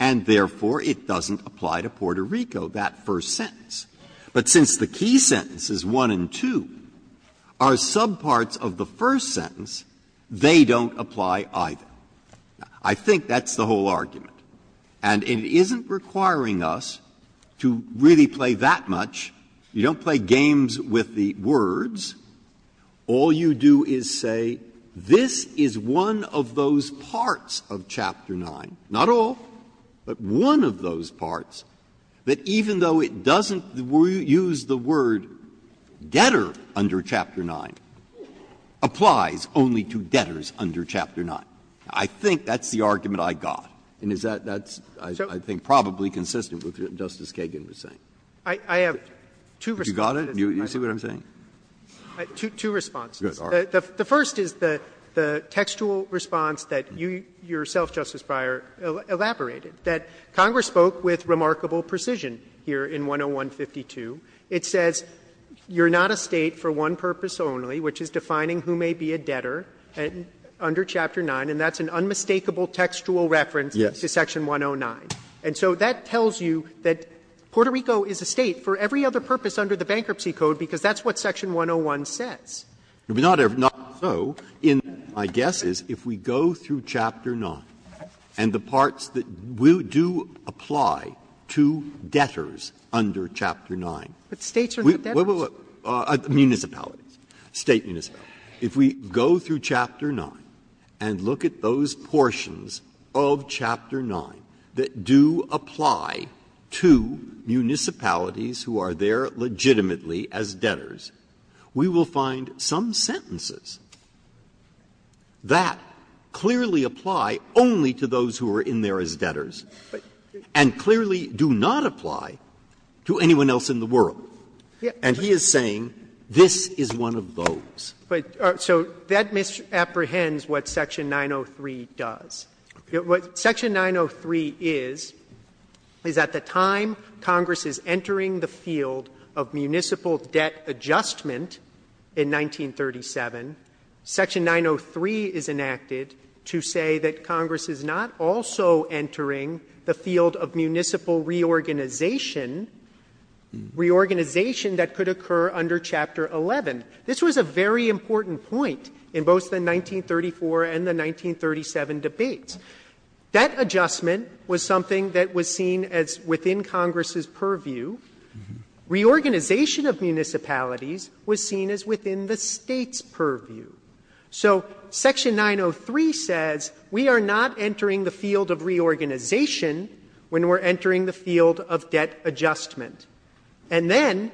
and therefore it doesn't apply to Puerto Rico, that first sentence. But since the key sentences 1 and 2 are subparts of the first sentence, they don't apply either. I think that's the whole argument. And it isn't requiring us to really play that much. You don't play games with the words. All you do is say this is one of those parts of Chapter 9, not all, but one of those parts, that even though it doesn't use the word debtor under Chapter 9, applies only to debtors under Chapter 9. I think that's the argument I got, and is that that's, I think, probably consistent with what Justice Kagan was saying. I have two responses. You got it? You see what I'm saying? Two responses. The first is the textual response that you yourself, Justice Breyer, elaborated, that Congress spoke with remarkable precision here in 101-52. It says you're not a State for one purpose only, which is defining who may be a debtor under Chapter 9, and that's an unmistakable textual reference to Section 109. And so that tells you that Puerto Rico is a State for every other purpose under the Bankruptcy Code, because that's what Section 101 says. Breyer, in my guess, is if we go through Chapter 9, and the parts that we don't know about, that do apply to debtors under Chapter 9. But States are not debtors. Wait, wait, wait, municipalities, State municipalities. If we go through Chapter 9 and look at those portions of Chapter 9 that do apply to municipalities who are there legitimately as debtors, we will find some sentences that clearly apply only to those who are in there as debtors, and clearly do not apply to anyone else in the world. And he is saying this is one of those. So that misapprehends what Section 903 does. What Section 903 is, is at the time Congress is entering the field of municipal debt adjustment in 1937, Section 903 is enacted to say that Congress is not also entering the field of municipal reorganization, reorganization that could occur under Chapter 11. This was a very important point in both the 1934 and the 1937 debates. Debt adjustment was something that was seen as within Congress's purview. Reorganization of municipalities was seen as within the State's purview. So Section 903 says we are not entering the field of reorganization when we are entering the field of debt adjustment. And then,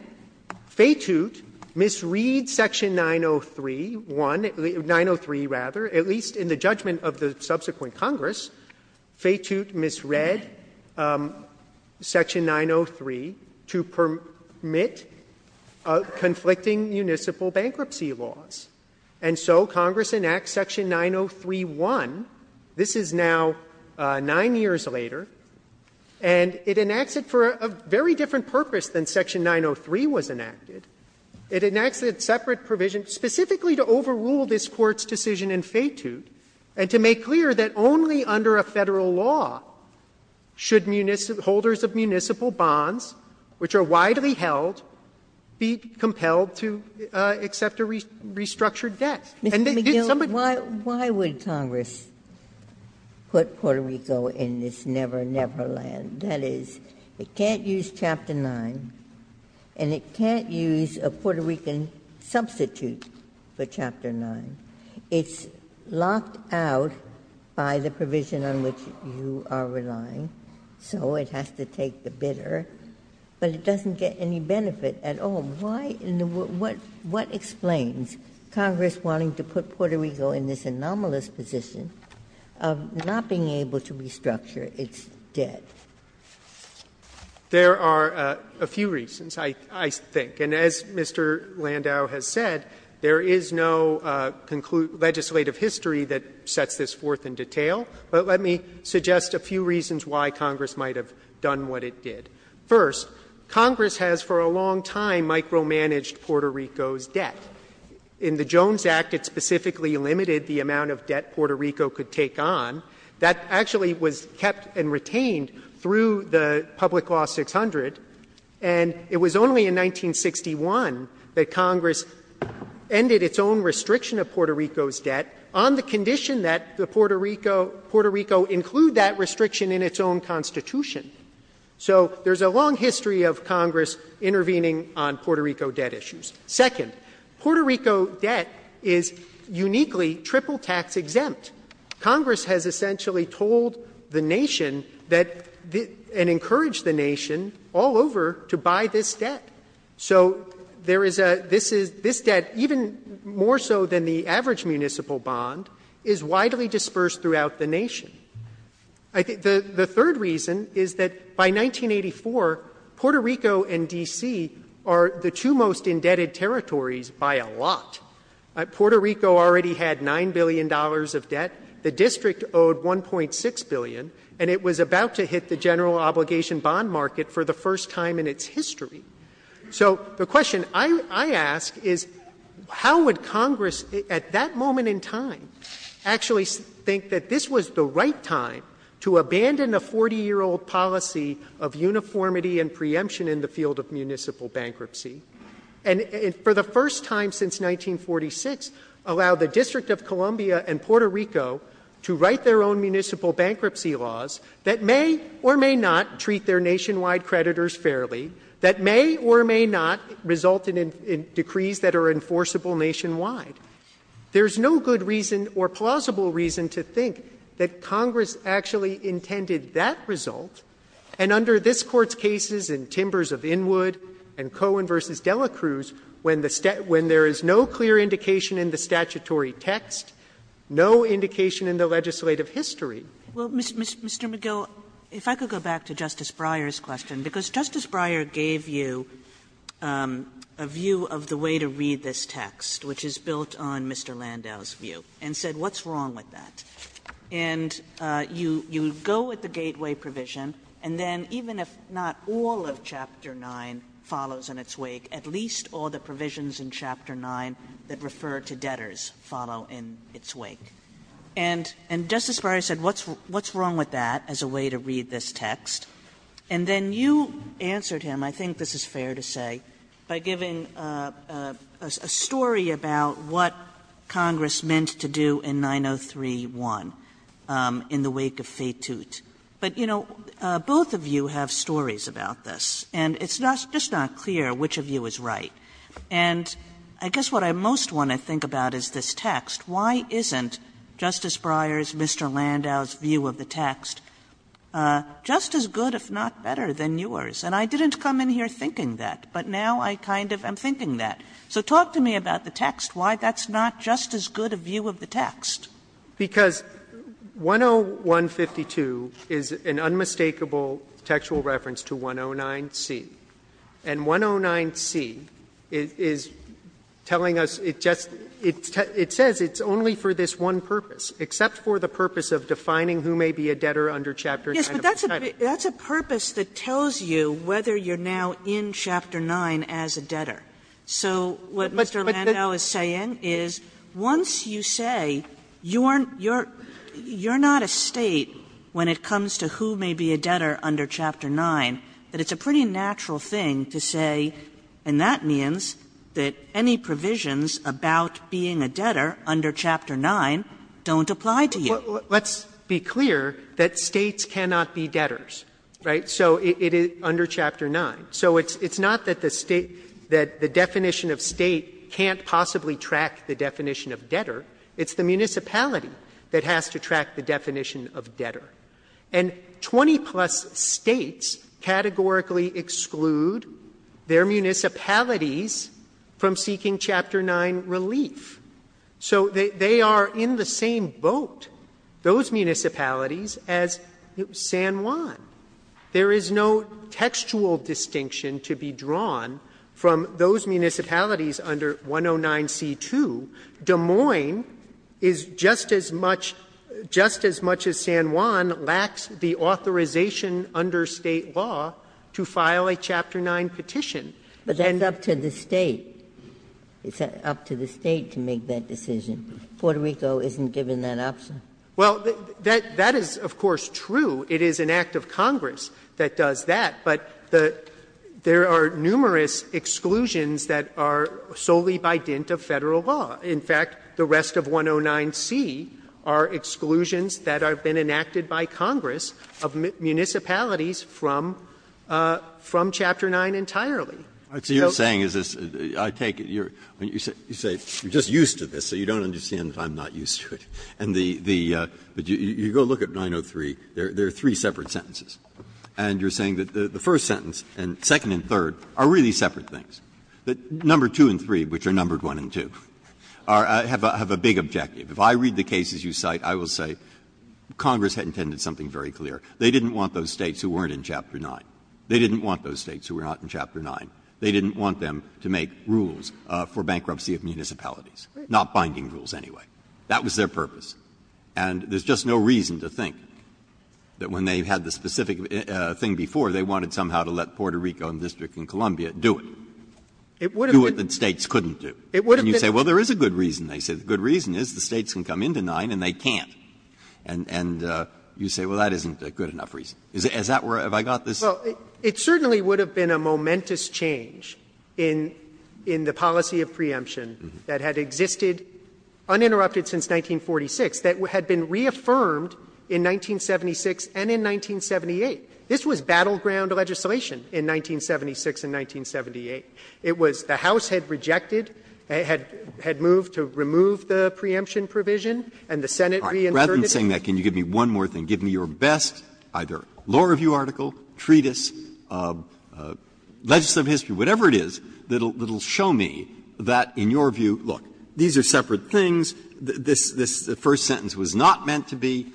Feitoot misread Section 903, 1, 903, rather, at least in the judgment of the subsequent Congress, Feitoot misread Section 903 to permit conflicting municipal bankruptcy laws. And so Congress enacts Section 903, 1. This is now nine years later. And it enacts it for a very different purpose than Section 903 was enacted. It enacts it as separate provision specifically to overrule this Court's decision in Feitoot and to make clear that only under a Federal law should holders of municipal bonds, which are widely held, be compelled to accept a restructured debt. And they did some of these things. Ginsburg. Why would Congress put Puerto Rico in this never-never land? That is, it can't use Chapter 9, and it can't use a Puerto Rican substitute for Chapter 9. It's locked out by the provision on which you are relying, so it has to take the bidder. But it doesn't get any benefit at all. Why and what explains Congress wanting to put Puerto Rico in this anomalous position of not being able to restructure its debt? There are a few reasons, I think. And as Mr. Landau has said, there is no legislative history that sets this forth in detail. But let me suggest a few reasons why Congress might have done what it did. First, Congress has for a long time micromanaged Puerto Rico's debt. In the Jones Act, it specifically limited the amount of debt Puerto Rico could take on. That actually was kept and retained through the Public Law 600. And it was only in 1961 that Congress ended its own restriction of Puerto Rico's debt on the condition that Puerto Rico include that restriction in its own Constitution. So there is a long history of Congress intervening on Puerto Rico debt issues. Second, Puerto Rico debt is uniquely triple-tax exempt. Congress has essentially told the nation that and encouraged the nation, all of Puerto Rico, all over to buy this debt. So there is a — this debt, even more so than the average municipal bond, is widely dispersed throughout the nation. I think the third reason is that by 1984, Puerto Rico and D.C. are the two most indebted territories by a lot. Puerto Rico already had $9 billion of debt, the district owed $1.6 billion, and it was about to hit the general obligation bond market for the first time in its history. So the question I ask is, how would Congress, at that moment in time, actually think that this was the right time to abandon a 40-year-old policy of uniformity and preemption in the field of municipal bankruptcy, and for the first time since 1946, allow the District of Columbia and Puerto Rico to write their own municipal bankruptcy laws that may or may not treat their nationwide creditors fairly, that may or may not result in decrees that are enforceable nationwide? There's no good reason or plausible reason to think that Congress actually intended that result. And under this Court's cases in Timbers of Inwood and Cohen v. Dela Cruz, when the — when the two are asked, no indication in the legislative history. Kagan Well, Mr. McGill, if I could go back to Justice Breyer's question, because Justice Breyer gave you a view of the way to read this text, which is built on Mr. Landau's view, and said what's wrong with that? And you go with the gateway provision, and then even if not all of chapter 9 follows in its wake, at least all the provisions in chapter 9 that refer to debtors follow in its wake. And Justice Breyer said, what's wrong with that as a way to read this text? And then you answered him, I think this is fair to say, by giving a story about what Congress meant to do in 903-1, in the wake of Feitout. But, you know, both of you have stories about this, and it's just not clear which of you is right. And I guess what I most want to think about is this text. Why isn't Justice Breyer's, Mr. Landau's view of the text just as good, if not better, than yours? And I didn't come in here thinking that, but now I kind of am thinking that. So talk to me about the text, why that's not just as good a view of the text. Because 101-52 is an unmistakable textual reference to 109-C, and 109-C is telling us, it just, it says it's only for this one purpose, except for the purpose of defining who may be a debtor under chapter 9 of the statute. Sotomayor, that's a purpose that tells you whether you're now in chapter 9 as a debtor. So what Mr. Landau is saying is, once you say you're not a State when it comes to who may be a debtor under chapter 9, that it's a pretty natural thing to say, and that means that any provisions about being a debtor under chapter 9 don't apply to you. Let's be clear that States cannot be debtors, right? So it is under chapter 9. So it's not that the State, that the definition of State can't possibly track the definition of debtor. It's the municipality that has to track the definition of debtor. And 20-plus States categorically exclude their municipalities from seeking chapter 9 relief. So they are in the same boat, those municipalities, as San Juan. There is no textual distinction to be drawn from those municipalities under 109c2. Des Moines is just as much, just as much as San Juan lacks the authorization under State law to file a chapter 9 petition. Ginsburg. But then up to the State. It's up to the State to make that decision. Puerto Rico isn't given that option. Well, that is, of course, true. It is an act of Congress that does that. But there are numerous exclusions that are solely by dint of Federal law. In fact, the rest of 109c are exclusions that have been enacted by Congress of municipalities from chapter 9 entirely. Breyer, so you're saying is this, I take it, you're, you say, you're just used to this. So you don't understand that I'm not used to it. And the, the, you go look at 903, there are three separate sentences. And you're saying that the first sentence and second and third are really separate things. That number 2 and 3, which are numbered 1 and 2, are, have a big objective. If I read the cases you cite, I will say Congress had intended something very clear. They didn't want those States who weren't in chapter 9. They didn't want those States who were not in chapter 9. They didn't want them to make rules for bankruptcy of municipalities, not binding rules anyway. That was their purpose. And there's just no reason to think that when they had the specific thing before, they wanted somehow to let Puerto Rico and the District of Columbia do it. Do it that States couldn't do. And you say, well, there is a good reason. They say the good reason is the States can come into 9 and they can't. And, and you say, well, that isn't a good enough reason. Is that where, have I got this? Well, it certainly would have been a momentous change in, in the policy of preemption that had existed uninterrupted since 1946, that had been reaffirmed in 1976 and in 1978. This was battleground legislation in 1976 and 1978. It was, the House had rejected, had, had moved to remove the preemption provision and the Senate reinterpreted it. Breyer, rather than saying that, can you give me one more thing? Give me your best either law review article, treatise, legislative history, whatever it is, that will, that will show me that, in your view, look, these are separate things, this, this first sentence was not meant to be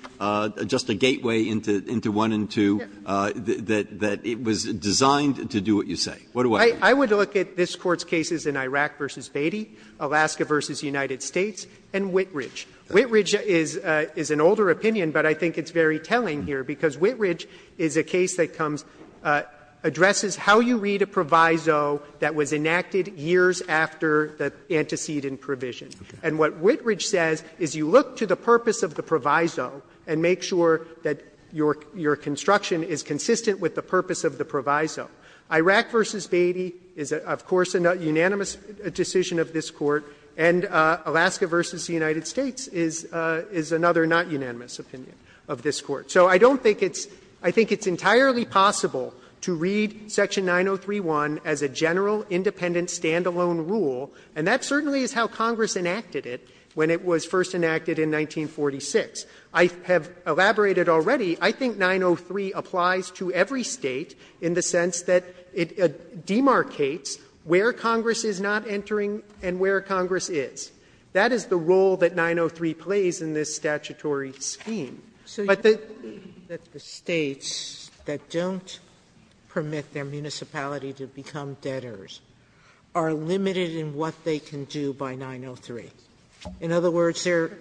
just a gateway into, into 1 and 2, that, that it was designed to do what you say. What do I think? I would look at this Court's cases in Iraq v. Beatty, Alaska v. United States, and Whitridge. Whitridge is, is an older opinion, but I think it's very telling here, because it's how you read a proviso that was enacted years after the antecedent provision. And what Whitridge says is you look to the purpose of the proviso and make sure that your, your construction is consistent with the purpose of the proviso. Iraq v. Beatty is, of course, a unanimous decision of this Court, and Alaska v. United States is, is another not-unanimous opinion of this Court. So I don't think it's, I think it's entirely possible to read Section 903-1 as a general, independent, standalone rule, and that certainly is how Congress enacted it when it was first enacted in 1946. I have elaborated already, I think 903 applies to every State in the sense that it demarcates where Congress is not entering and where Congress is. That is the role that 903 plays in this statutory scheme. Sotomayor, but the States that don't permit their municipality to become debtors are limited in what they can do by 903. In other words, their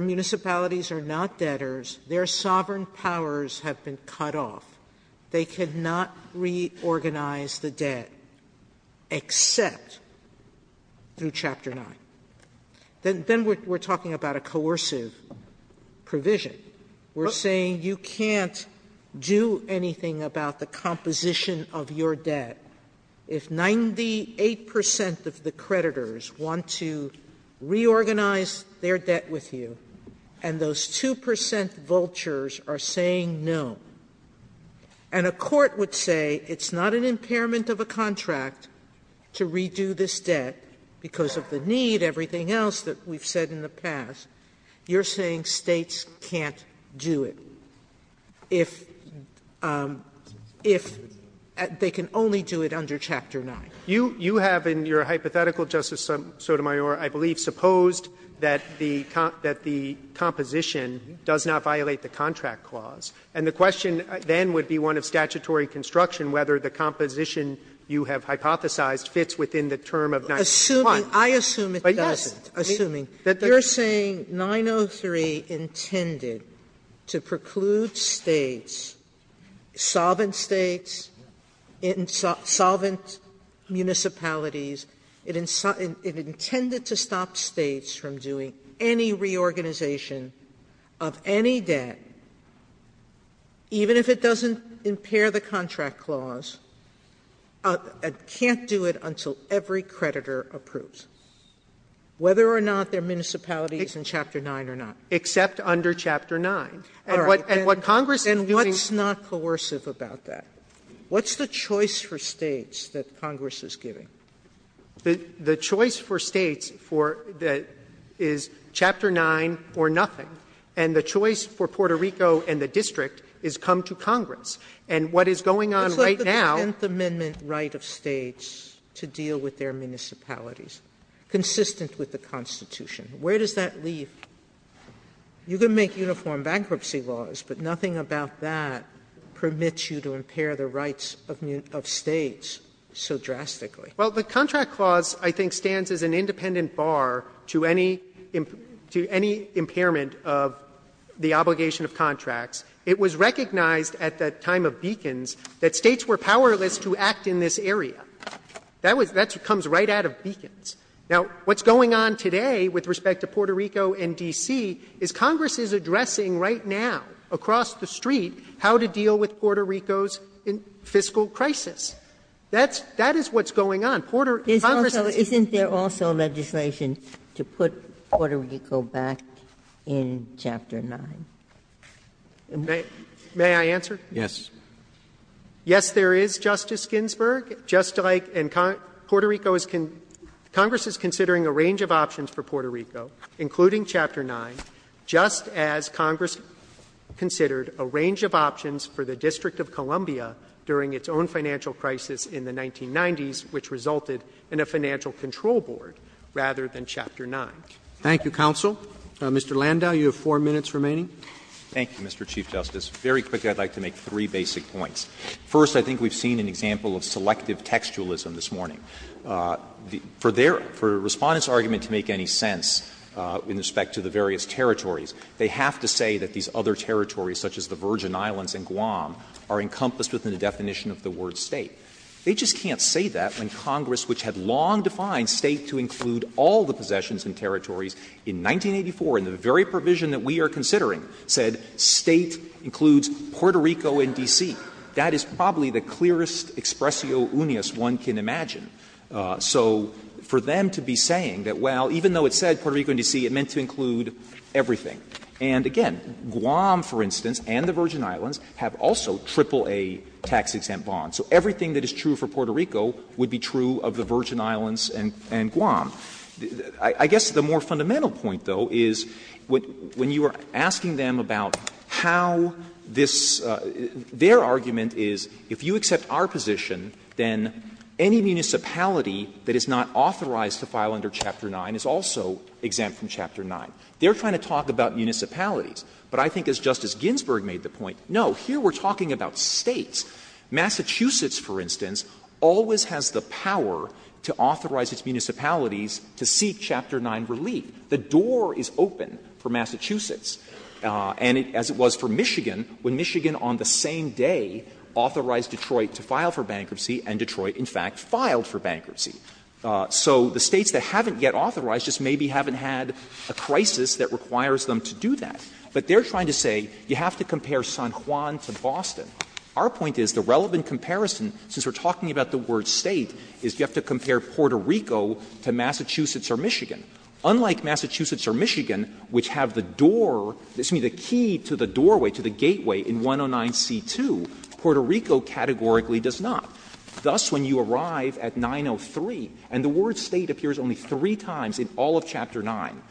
municipalities are not debtors. Their sovereign powers have been cut off. They cannot reorganize the debt except through Chapter 9. Then we're talking about a coercive provision. We're saying you can't do anything about the composition of your debt if 98 percent of the creditors want to reorganize their debt with you, and those 2 percent vultures are saying no. And a court would say it's not an impairment of a contract to redo this debt because of the need, everything else that we've said in the past. You're saying States can't do it if they can only do it under Chapter 9. You have in your hypothetical, Justice Sotomayor, I believe, supposed that the composition does not violate the contract clause. And the question then would be one of statutory construction, whether the composition you have hypothesized fits within the term of 903. Sotomayor, I assume it doesn't. You're saying 903 intended to preclude States, solvent States, solvent municipalities. It intended to stop States from doing any reorganization of any debt, even if it doesn't impair the contract clause, can't do it until every creditor approves, whether or not their municipality is in Chapter 9 or not. Except under Chapter 9. And what Congress is doing is using. And what's not coercive about that? What's the choice for States that Congress is giving? The choice for States is Chapter 9 or nothing, and the choice for Puerto Rico and the And what is going on right now. Sotomayor, it's like the Tenth Amendment right of States to deal with their municipalities, consistent with the Constitution. Where does that leave? You can make uniform bankruptcy laws, but nothing about that permits you to impair the rights of States so drastically. Well, the contract clause, I think, stands as an independent bar to any impairment of the obligation of contracts. It was recognized at the time of Beacons that States were powerless to act in this area. That was that's what comes right out of Beacons. Now, what's going on today with respect to Puerto Rico and D.C. is Congress is addressing right now across the street how to deal with Puerto Rico's fiscal crisis. Congress is. Ginsburg. Isn't there also legislation to put Puerto Rico back in Chapter 9? May I answer? Yes. Yes, there is, Justice Ginsburg. Just like in Puerto Rico is Congress is considering a range of options for Puerto Rico, including Chapter 9, just as Congress considered a range of options for the District of Columbia during its own financial crisis in the 1990s, which resulted in a financial control board rather than Chapter 9. Thank you, counsel. Mr. Landau, you have 4 minutes remaining. Thank you, Mr. Chief Justice. Very quickly, I would like to make three basic points. First, I think we have seen an example of selective textualism this morning. For their respondent's argument to make any sense in respect to the various territories, they have to say that these other territories, such as the Virgin Islands and Guam, are encompassed within the definition of the word State. They just can't say that when Congress, which had long defined State to include all the possessions and territories, in 1984, in the very provision that we are considering, said State includes Puerto Rico and D.C. That is probably the clearest expressio unius one can imagine. So for them to be saying that, well, even though it said Puerto Rico and D.C., it meant to include everything. And again, Guam, for instance, and the Virgin Islands have also AAA tax-exempt bonds. So everything that is true for Puerto Rico would be true of the Virgin Islands and Guam. I guess the more fundamental point, though, is when you are asking them about how this — their argument is if you accept our position, then any municipality that is not authorized to file under Chapter 9 is also exempt from Chapter 9. They are trying to talk about municipalities. But I think as Justice Ginsburg made the point, no, here we are talking about States. Massachusetts, for instance, always has the power to authorize its municipalities to seek Chapter 9 relief. The door is open for Massachusetts, and as it was for Michigan, when Michigan on the same day authorized Detroit to file for bankruptcy, and Detroit, in fact, filed for bankruptcy. So the States that haven't yet authorized just maybe haven't had a crisis that requires them to do that. But they are trying to say you have to compare San Juan to Boston. Our point is the relevant comparison, since we are talking about the word State, is you have to compare Puerto Rico to Massachusetts or Michigan. Unlike Massachusetts or Michigan, which have the door — excuse me, the key to the doorway, to the gateway in 109c2, Puerto Rico categorically does not. Thus, when you arrive at 903, and the word State appears only three times in all of Chapter 9,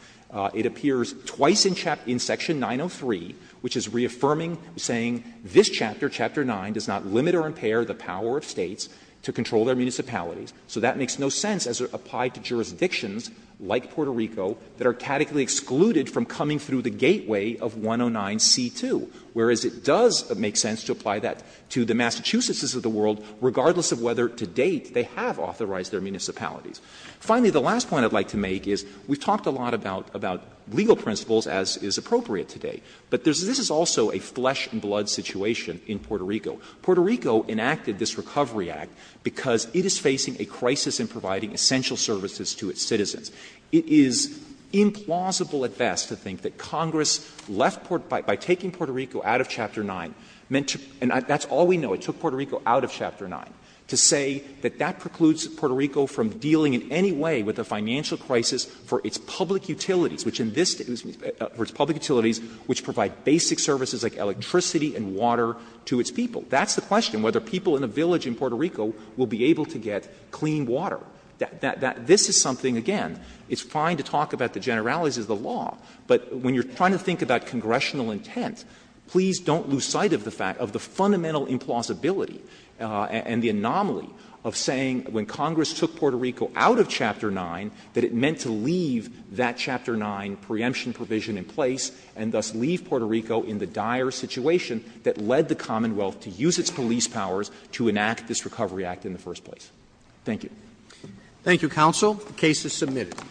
it appears twice in Section 903, which is reaffirming, saying this chapter Chapter 9 does not limit or impair the power of States to control their municipalities. So that makes no sense as it applied to jurisdictions like Puerto Rico that are categorically excluded from coming through the gateway of 109c2, whereas it does make sense to apply that to the Massachusetts of the world, regardless of whether to date they have authorized their municipalities. Finally, the last point I would like to make is we have talked a lot about legal principles, as is appropriate today. But this is also a flesh-and-blood situation in Puerto Rico. Puerto Rico enacted this Recovery Act because it is facing a crisis in providing essential services to its citizens. It is implausible at best to think that Congress left — by taking Puerto Rico out of Chapter 9 meant to — and that's all we know, it took Puerto Rico out of Chapter 9 — to say that that precludes Puerto Rico from dealing in any way with a financial crisis for its public utilities, which in this State — for its public utilities, which provide basic services like electricity and water to its people. That's the question, whether people in a village in Puerto Rico will be able to get clean water. This is something, again, it's fine to talk about the generalities of the law, but when you are trying to think about congressional intent, please don't lose sight of the fact, of the fundamental implausibility and the anomaly of saying when Congress took Puerto Rico out of Chapter 9, that it meant to leave that Chapter 9 preemption provision in place, and thus leave Puerto Rico in the dire situation that led the Commonwealth to use its police powers to enact this Recovery Act in the first place. Thank you. Roberts. Thank you, counsel. The case is submitted.